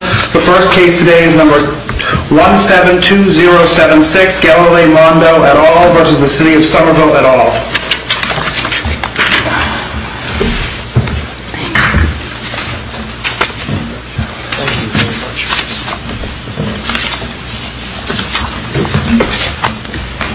The first case today is number 172076, Galileo Mondol v. the City of Somerville et al.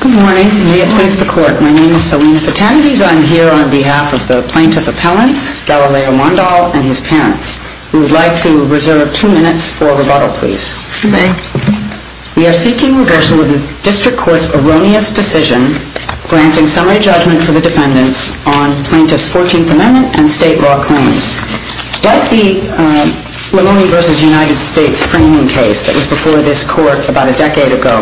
Good morning, and may it please the Court, my name is Selina Fitanidis. I am here on behalf of the Plaintiff Appellants, Galileo Mondol and his parents, who would like to reserve two minutes for rebuttal, please. Thank you. We are seeking reversal of the District Court's erroneous decision granting summary judgment for the defendants on Plaintiff's 14th Amendment and state law claims. Like the Lamoni v. United States framing case that was before this Court about a decade ago,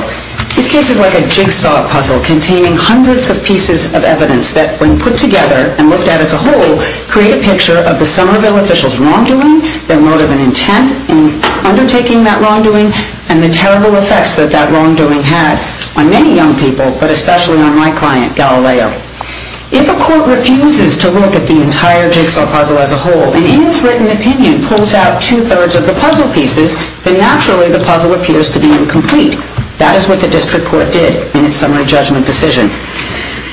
this case is like a jigsaw puzzle containing hundreds of pieces of evidence that, when put together and looked at as a whole, create a picture of the Somerville officials' wrongdoing, their motive and intent in undertaking that wrongdoing, and the terrible effects that that wrongdoing had on many young people, but especially on my client, Galileo. If a Court refuses to look at the entire jigsaw puzzle as a whole, and in its written opinion pulls out two-thirds of the puzzle pieces, then naturally the puzzle appears to be incomplete. That is what the District Court did in its summary judgment decision.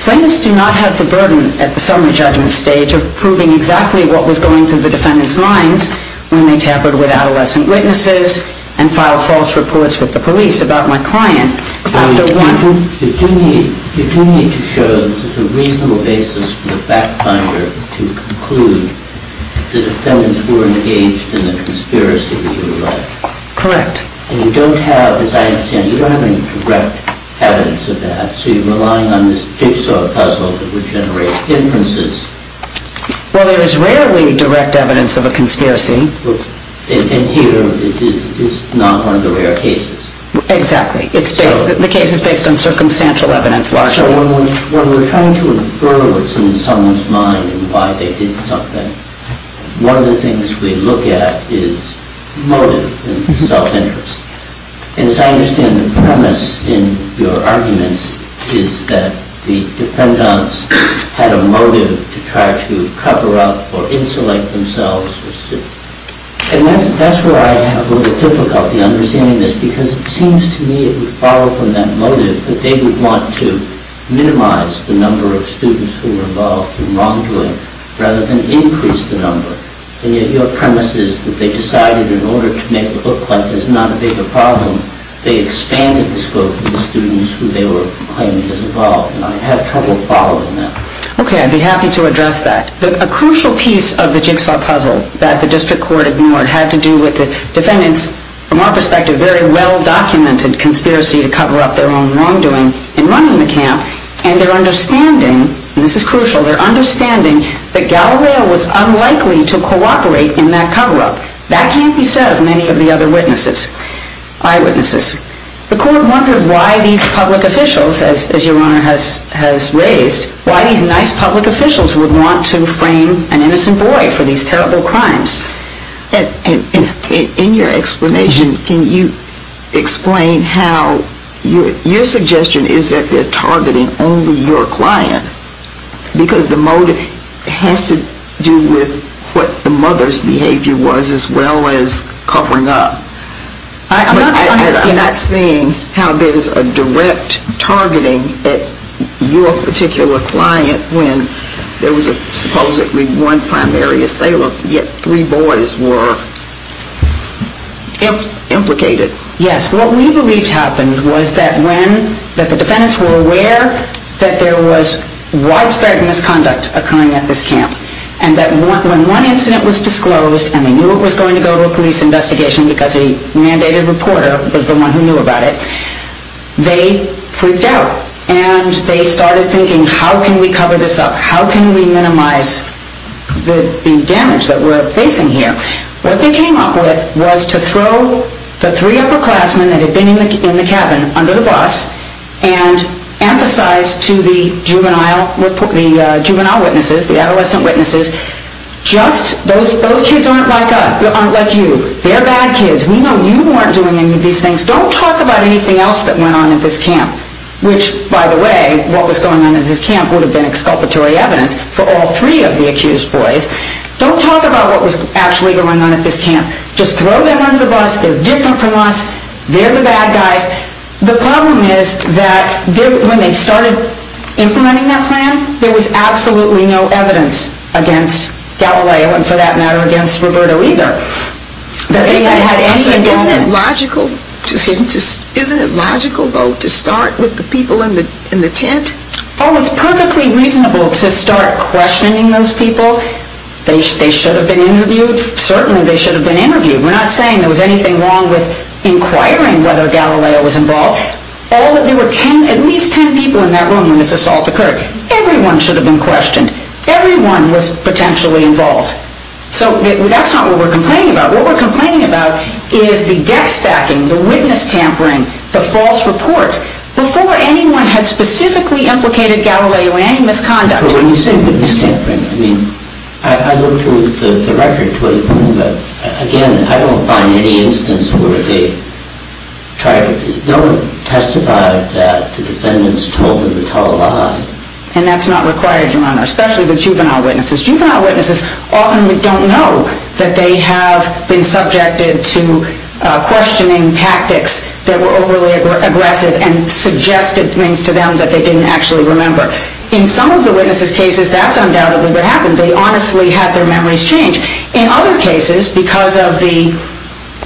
Plaintiffs do not have the burden at the summary judgment stage of proving exactly what was going through the defendants' minds when they tampered with adolescent witnesses and filed false reports with the police about my client. Dr. Warren, you do need to show a reasonable basis for the fact finder to conclude that the defendants were engaged in the conspiracy that you write. Correct. And you don't have, as I understand, you don't have any direct evidence of that, so you're relying on this jigsaw puzzle that would generate inferences. Well, there is rarely direct evidence of a conspiracy. And here it is not one of the rare cases. Exactly. The case is based on circumstantial evidence, largely. When we're trying to infer what's in someone's mind and why they did something, one of the things we look at is motive and self-interest. And as I understand the premise in your arguments is that the defendants had a motive to try to cover up or insulate themselves. And that's where I have a little difficulty understanding this because it seems to me it would follow from that motive that they would want to minimize the number of students who were involved in wrongdoing rather than increase the number. And yet your premise is that they decided in order to make it look like there's not a bigger problem, they expanded the scope of the students who they were claiming was involved, and I have trouble following that. Okay, I'd be happy to address that. A crucial piece of the jigsaw puzzle that the district court ignored had to do with the defendants, from our perspective, very well-documented conspiracy to cover up their own wrongdoing in running the camp, and their understanding, and this is crucial, their understanding that Galileo was unlikely to cooperate in that cover-up. That can't be said of many of the other eyewitnesses. The court wondered why these public officials, as your Honor has raised, why these nice public officials would want to frame an innocent boy for these terrible crimes. And in your explanation, can you explain how your suggestion is that they're targeting only your client because the motive has to do with what the mother's behavior was as well as covering up. I'm not seeing how there's a direct targeting at your particular client when there was supposedly one primary assailant, yet three boys were implicated. Yes, what we believed happened was that when the defendants were aware that there was widespread misconduct occurring at this camp, and that when one incident was disclosed and they knew it was going to go to a police investigation because a mandated reporter was the one who knew about it, they freaked out. And they started thinking, how can we cover this up? How can we minimize the damage that we're facing here? What they came up with was to throw the three upperclassmen that had been in the cabin under the bus and emphasize to the juvenile witnesses, the adolescent witnesses, just, those kids aren't like us, aren't like you. They're bad kids. We know you weren't doing any of these things. Don't talk about anything else that went on at this camp. Which, by the way, what was going on at this camp would have been exculpatory evidence for all three of the accused boys. Don't talk about what was actually going on at this camp. Just throw them under the bus. They're different from us. They're the bad guys. The problem is that when they started implementing that plan, there was absolutely no evidence against Galileo and, for that matter, against Roberto either. Isn't it logical, though, to start with the people in the tent? Oh, it's perfectly reasonable to start questioning those people. They should have been interviewed. Certainly they should have been interviewed. We're not saying there was anything wrong with inquiring whether Galileo was involved. There were at least ten people in that room when this assault occurred. Everyone should have been questioned. Everyone was potentially involved. So that's not what we're complaining about. What we're complaining about is the deck stacking, the witness tampering, the false reports, before anyone had specifically implicated Galileo in any misconduct. When you say witness tampering, I mean, I looked through the record to a degree, but, again, I don't find any instance where they don't testify that the defendants told them to tell a lie. And that's not required, Your Honor, especially with juvenile witnesses. Juvenile witnesses often don't know that they have been subjected to questioning tactics that were overly aggressive and suggested things to them that they didn't actually remember. In some of the witnesses' cases, that's undoubtedly what happened. They honestly had their memories changed. In other cases, because of the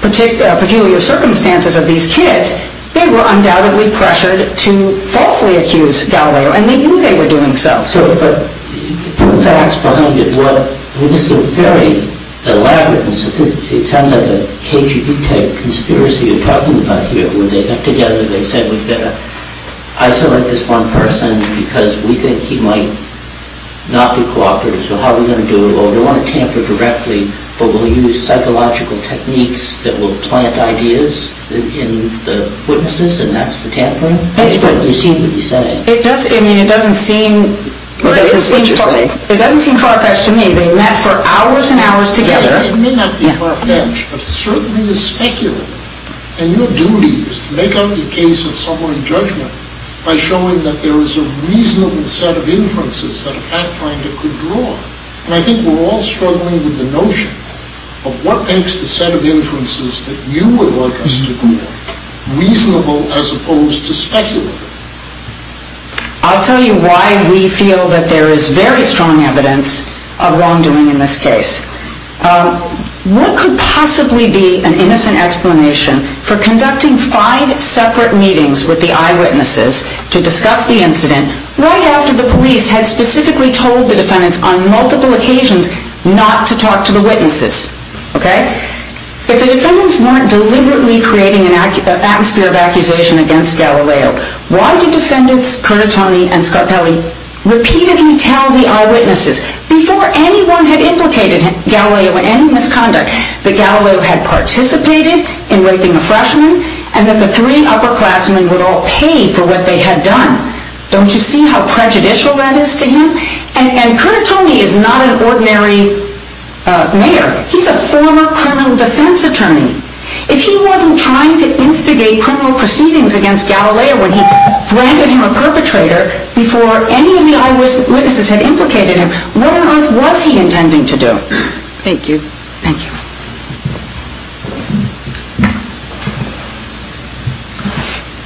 peculiar circumstances of these kids, they were undoubtedly pressured to falsely accuse Galileo, and they knew they were doing so. So the facts behind it, well, this is very elaborate and sophisticated. It sounds like a KGB-type conspiracy you're talking about here. When they got together, they said, we've got to isolate this one person because we think he might not be cooperative. So how are we going to do it? Oh, we don't want to tamper directly, but we'll use psychological techniques that will plant ideas in the witnesses, and that's the tampering? That's what you seem to be saying. It doesn't seem far-fetched to me. They met for hours and hours together. It may not be far-fetched, but it certainly is speculative. And your duty is to make out the case of someone in judgment by showing that there is a reasonable set of inferences that a fact finder could draw. And I think we're all struggling with the notion of what makes the set of inferences that you would like us to draw reasonable as opposed to speculative. I'll tell you why we feel that there is very strong evidence of wrongdoing in this case. What could possibly be an innocent explanation for conducting five separate meetings with the eyewitnesses to discuss the incident right after the police had specifically told the defendants on multiple occasions not to talk to the witnesses? If the defendants weren't deliberately creating an atmosphere of accusation against Galileo, why did defendants Kernitoni and Scarpelli repeatedly tell the eyewitnesses before anyone had implicated Galileo in any misconduct that Galileo had participated in raping a freshman and that the three upperclassmen would all pay for what they had done? Don't you see how prejudicial that is to him? And Kernitoni is not an ordinary mayor. He's a former criminal defense attorney. If he wasn't trying to instigate criminal proceedings against Galileo when he granted him a perpetrator before any of the eyewitnesses had implicated him, what on earth was he intending to do? Thank you. Thank you.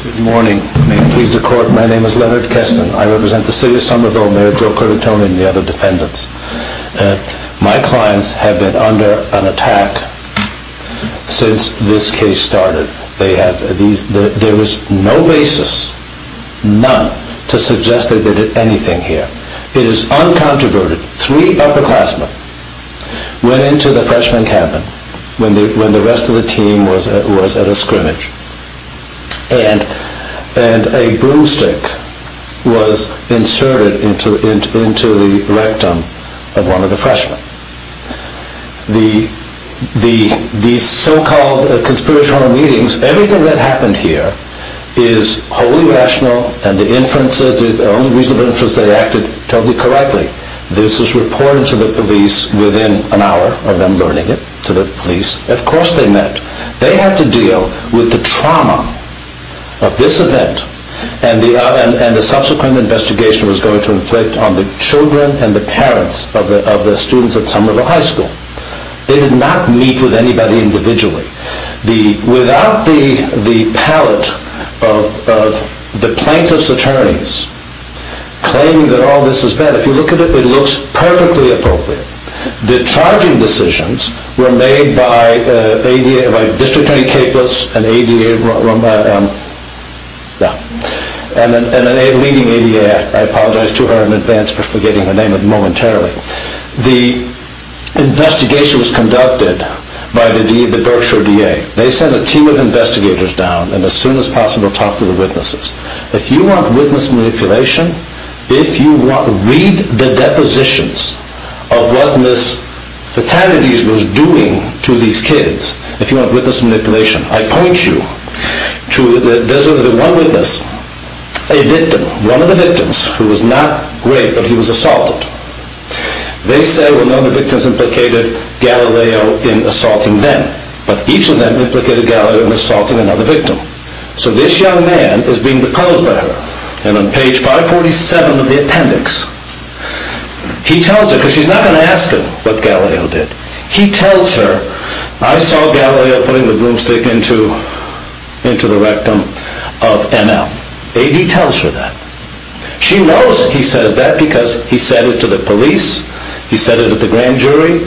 Good morning. May it please the court, my name is Leonard Keston. I represent the city of Somerville, Mayor Joe Kernitoni and the other defendants. My clients have been under an attack since this case started. There was no basis, none, to suggest that they did anything here. It is uncontroverted. Three upperclassmen went into the freshman cabin when the rest of the team was at a scrimmage and a broomstick was inserted into the rectum of one of the freshmen. The so-called conspiratorial meetings, everything that happened here is wholly rational and the inferences, the only reason they acted totally correctly. This was reported to the police within an hour of them learning it, to the police. Of course they met. They had to deal with the trauma of this event and the subsequent investigation was going to inflict on the children and the parents of the students at Somerville High School. They did not meet with anybody individually. Without the pallet of the plaintiff's attorneys claiming that all this is bad, if you look at it, it looks perfectly appropriate. The charging decisions were made by District Attorney Capus and a leading ADAF. I apologize to her in advance for forgetting her name momentarily. The investigation was conducted by the Berkshire DA. They sent a team of investigators down and as soon as possible talked to the witnesses. If you want witness manipulation, if you want to read the depositions of what Ms. Fatalities was doing to these kids, if you want witness manipulation, I point you to one witness, a victim, one of the victims who was not raped, but he was assaulted. They said, well none of the victims implicated Galileo in assaulting them, but each of them implicated Galileo in assaulting another victim. So this young man is being proposed by her and on page 547 of the appendix, he tells her, because she's not going to ask him what Galileo did, he tells her, I saw Galileo putting the broomstick into the rectum of ML. AD tells her that. She knows he says that because he said it to the police, he said it at the grand jury.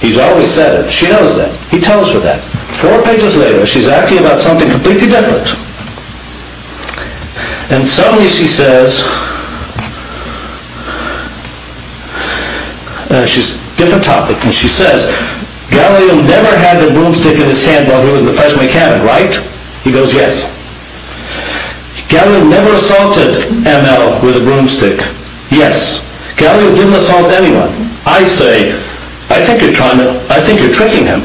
He's always said it. She knows that. He tells her that. Four pages later, she's acting about something completely different. And suddenly she says, she's a different topic, and she says, Galileo never had the broomstick in his hand while he was in the freshman academy, right? He goes, yes. Galileo never assaulted ML with a broomstick. Yes. Galileo didn't assault anyone. I say, I think you're trying to, I think you're tricking him.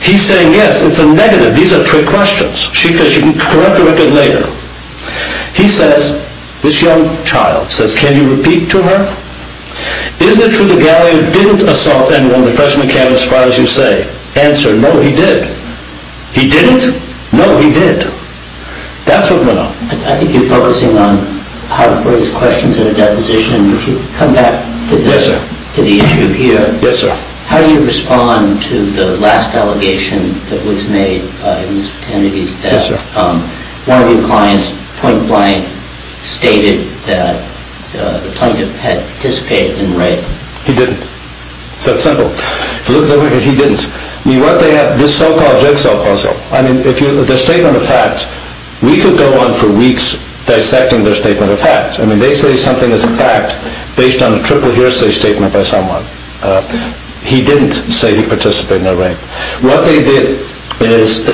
He's saying, yes, it's a negative. These are trick questions. She can correct the record later. He says, this young child says, can you repeat to her? Isn't it true that Galileo didn't assault anyone in the freshman academy as far as you say? I say, answer, no, he did. He didn't? No, he did. That's what went on. I think you're focusing on how to phrase questions in a deposition. Would you come back to the issue here? Yes, sir. How do you respond to the last allegation that was made in Mr. Kennedy's death? Yes, sir. One of your clients point blank stated that the plaintiff had participated in rape. He didn't. It's that simple. If you look at the record, he didn't. This so-called jigsaw puzzle. I mean, the statement of facts. We could go on for weeks dissecting their statement of facts. I mean, they say something is a fact based on a triple hearsay statement by someone. He didn't say he participated in a rape. What they did is,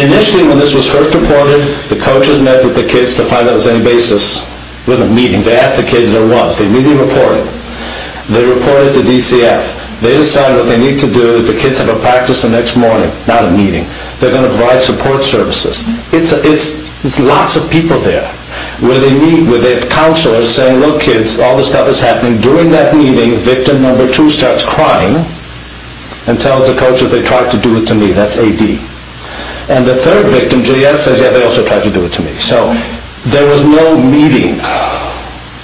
initially when this was first reported, the coaches met with the kids to find out if there was any basis. It wasn't a meeting. They asked the kids there was. They immediately reported. They reported to DCF. They decided what they need to do is the kids have a practice the next morning. Not a meeting. They're going to provide support services. It's lots of people there. Where they meet, where they have counselors saying, look, kids, all this stuff is happening. During that meeting, victim number two starts crying and tells the coaches they tried to do it to me. That's AD. And the third victim, GS, says, yeah, they also tried to do it to me. So there was no meeting.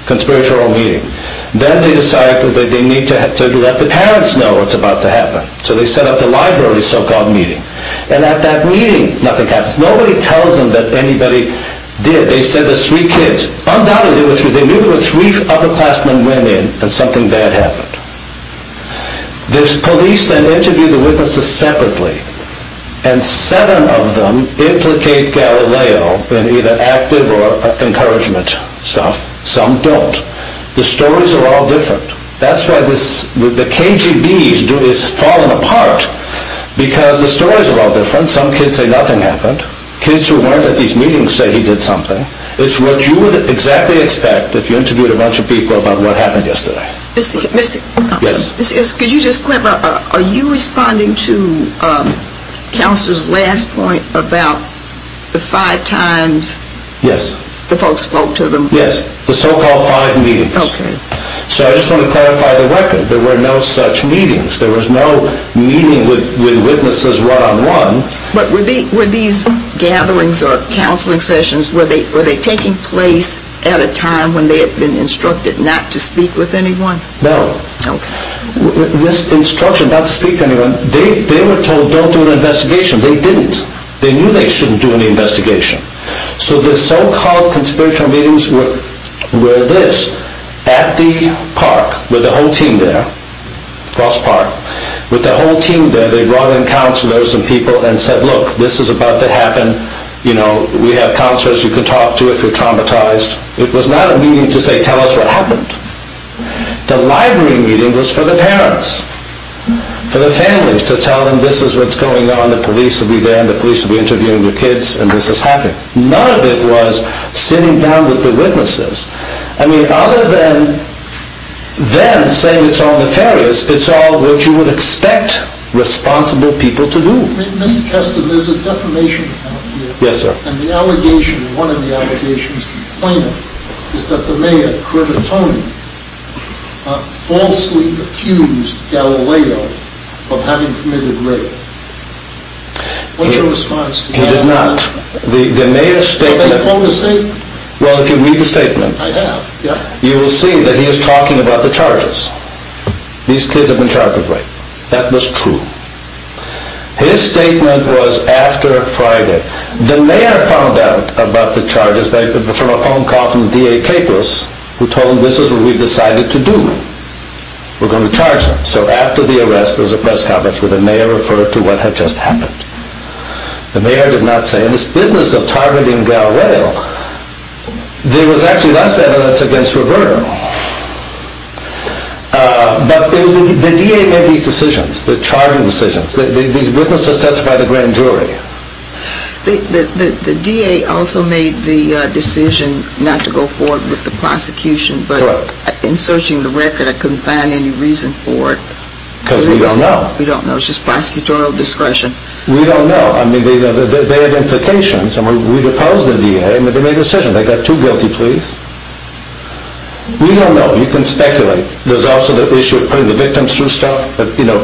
Conspiratorial meeting. Then they decided that they need to let the parents know what's about to happen. So they set up the library so-called meeting. And at that meeting, nothing happens. Nobody tells them that anybody did. They said there's three kids. Undoubtedly, they knew there were three upperclassmen went in and something bad happened. The police then interviewed the witnesses separately. And seven of them implicate Galileo in either active or encouragement stuff. Some don't. The stories are all different. That's why the KGB is falling apart, because the stories are all different. Some kids say nothing happened. Kids who weren't at these meetings say he did something. It's what you would exactly expect if you interviewed a bunch of people about what happened yesterday. Mr. Hickman, could you just clarify, are you responding to Counselor's last point about the five times the folks spoke to them? Yes, the so-called five meetings. Okay. So I just want to clarify the record. There were no such meetings. There was no meeting with witnesses one-on-one. But were these gatherings or counseling sessions, were they taking place at a time when they had been instructed not to speak with anyone? No. Okay. This instruction not to speak to anyone, they were told don't do an investigation. They didn't. They knew they shouldn't do an investigation. So the so-called conspiratorial meetings were this, at the park with the whole team there, across the park, with the whole team there, they brought in counselors and people and said, look, this is about to happen. You know, we have counselors you can talk to if you're traumatized. It was not a meeting to say tell us what happened. The library meeting was for the parents, for the families to tell them this is what's going on. The police will be there and the police will be interviewing the kids and this is happening. None of it was sitting down with the witnesses. I mean, other than them saying it's all nefarious, it's all what you would expect responsible people to do. Mr. Keston, there's a defamation count here. Yes, sir. And the allegation, one of the allegations, the plaintiff, is that the mayor, Kermit Tony, falsely accused Galileo of having committed rape. What's your response to that? He did not. The mayor's statement... Did they quote his statement? Well, if you read the statement... I have, yeah. You will see that he is talking about the charges. These kids have been charged with rape. That was true. His statement was after Friday. The mayor found out about the charges from a phone call from D.A. Capos, who told him this is what we've decided to do. We're going to charge them. So after the arrest, there was a press conference where the mayor referred to what had just happened. The mayor did not say, in this business of targeting Galileo, there was actually less evidence against Roberta. But the D.A. made these decisions, the charging decisions. These witnesses testified at the grand jury. The D.A. also made the decision not to go forward with the prosecution, but in searching the record, I couldn't find any reason for it. Because we don't know. We don't know. It's just prosecutorial discretion. We don't know. I mean, they have implications. We've opposed the D.A., but they made a decision. They got two guilty pleas. We don't know. You can speculate. There's also the issue of putting the victims through stuff. But, you know,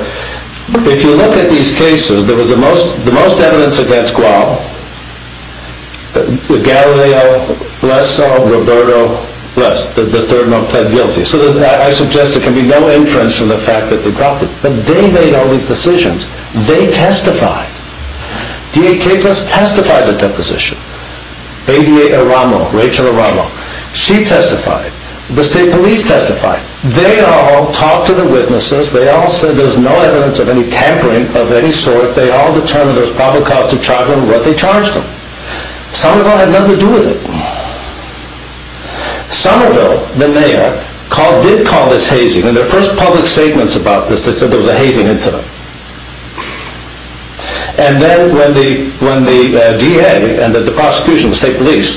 if you look at these cases, there was the most evidence against Gual, Galileo, less so, Roberto, less. The third one pled guilty. So I suggest there can be no inference from the fact that they dropped it. But they made all these decisions. They testified. D.A. Cagless testified at the deposition. A.D.A. Aramo, Rachel Aramo, she testified. The state police testified. They all talked to the witnesses. They all said there's no evidence of any tampering of any sort. They all determined there was probable cause to charge them what they charged them. Somerville had nothing to do with it. Somerville, the mayor, did call this hazing. In their first public statements about this, they said there was a hazing incident. And then when the D.A. and the prosecution, the state police,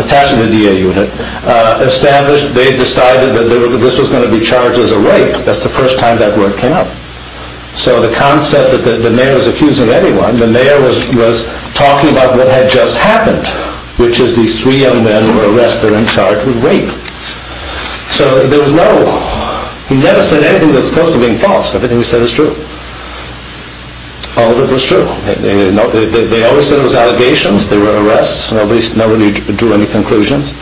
attached to the D.A. unit, established, they decided that this was going to be charged as a rape. That's the first time that word came out. So the concept that the mayor was accusing anyone, the mayor was talking about what had just happened, which is these three young men were arrested and charged with rape. So there was no, he never said anything that's close to being false. Everything he said is true. All of it was true. They always said it was allegations. They were arrests. Nobody drew any conclusions.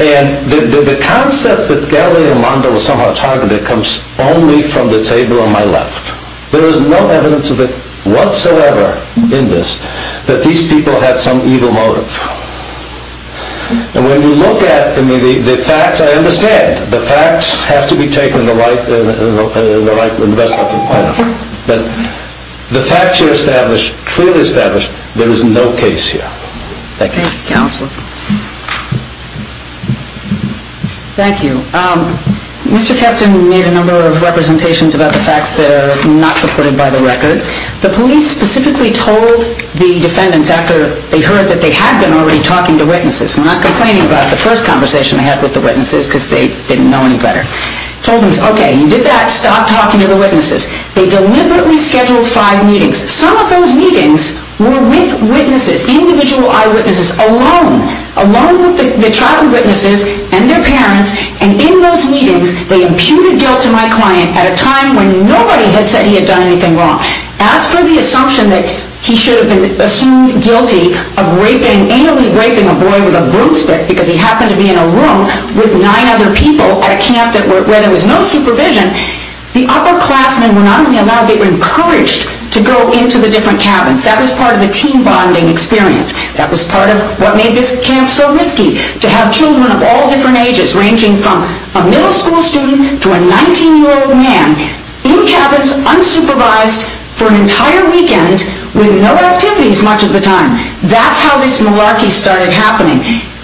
And the concept that Gali and Amanda were somehow targeted comes only from the table on my left. There is no evidence of it whatsoever in this, that these people had some evil motive. And when you look at the facts, I understand. The facts have to be taken in the best way I can find. But the facts you established, clearly established, there is no case here. Thank you. Thank you. Mr. Keston made a number of representations about the facts that are not supported by the record. The police specifically told the defendants after they heard that they had been already talking to witnesses, not complaining about the first conversation they had with the witnesses because they didn't know any better, told them, okay, you did that, stop talking to the witnesses. They deliberately scheduled five meetings. Some of those meetings were with witnesses, individual eyewitnesses alone, alone with the child witnesses and their parents. And in those meetings, they imputed guilt to my client at a time when nobody had said he had done anything wrong. As for the assumption that he should have been assumed guilty of annually raping a boy with a broomstick because he happened to be in a room with nine other people at a camp where there was no supervision, the upperclassmen were not only allowed, they were encouraged to go into the different cabins. That was part of the team bonding experience. That was part of what made this camp so risky, to have children of all different ages, ranging from a middle school student to a 19-year-old man, in cabins unsupervised for an entire weekend with no activities much of the time. That's how this malarkey started happening.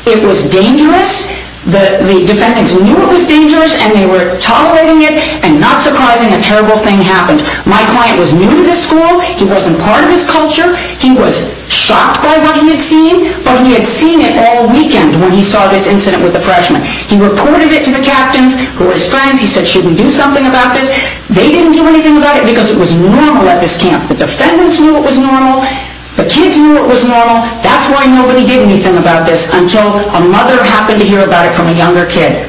It was dangerous. The defendants knew it was dangerous and they were tolerating it, and not surprising, a terrible thing happened. My client was new to this school. He wasn't part of this culture. He was shocked by what he had seen, but he had seen it all weekend when he saw this incident with the freshmen. He reported it to the captains who were his friends. He said, should we do something about this? They didn't do anything about it because it was normal at this camp. The defendants knew it was normal. The kids knew it was normal. That's why nobody did anything about this until a mother happened to hear about it from a younger kid.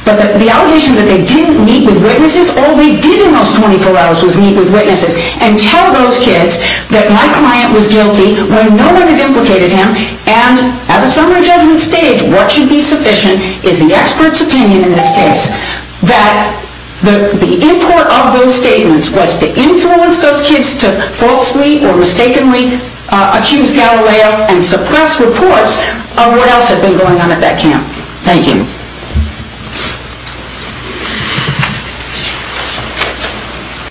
But the allegation that they didn't meet with witnesses, all they did in those 24 hours was meet with witnesses and tell those kids that my client was guilty when no one had implicated him, and at a summary judgment stage, what should be sufficient is the expert's opinion in this case. That the import of those statements was to influence those kids to falsely or mistakenly accuse Galileo and suppress reports of what else had been going on at that camp. Thank you.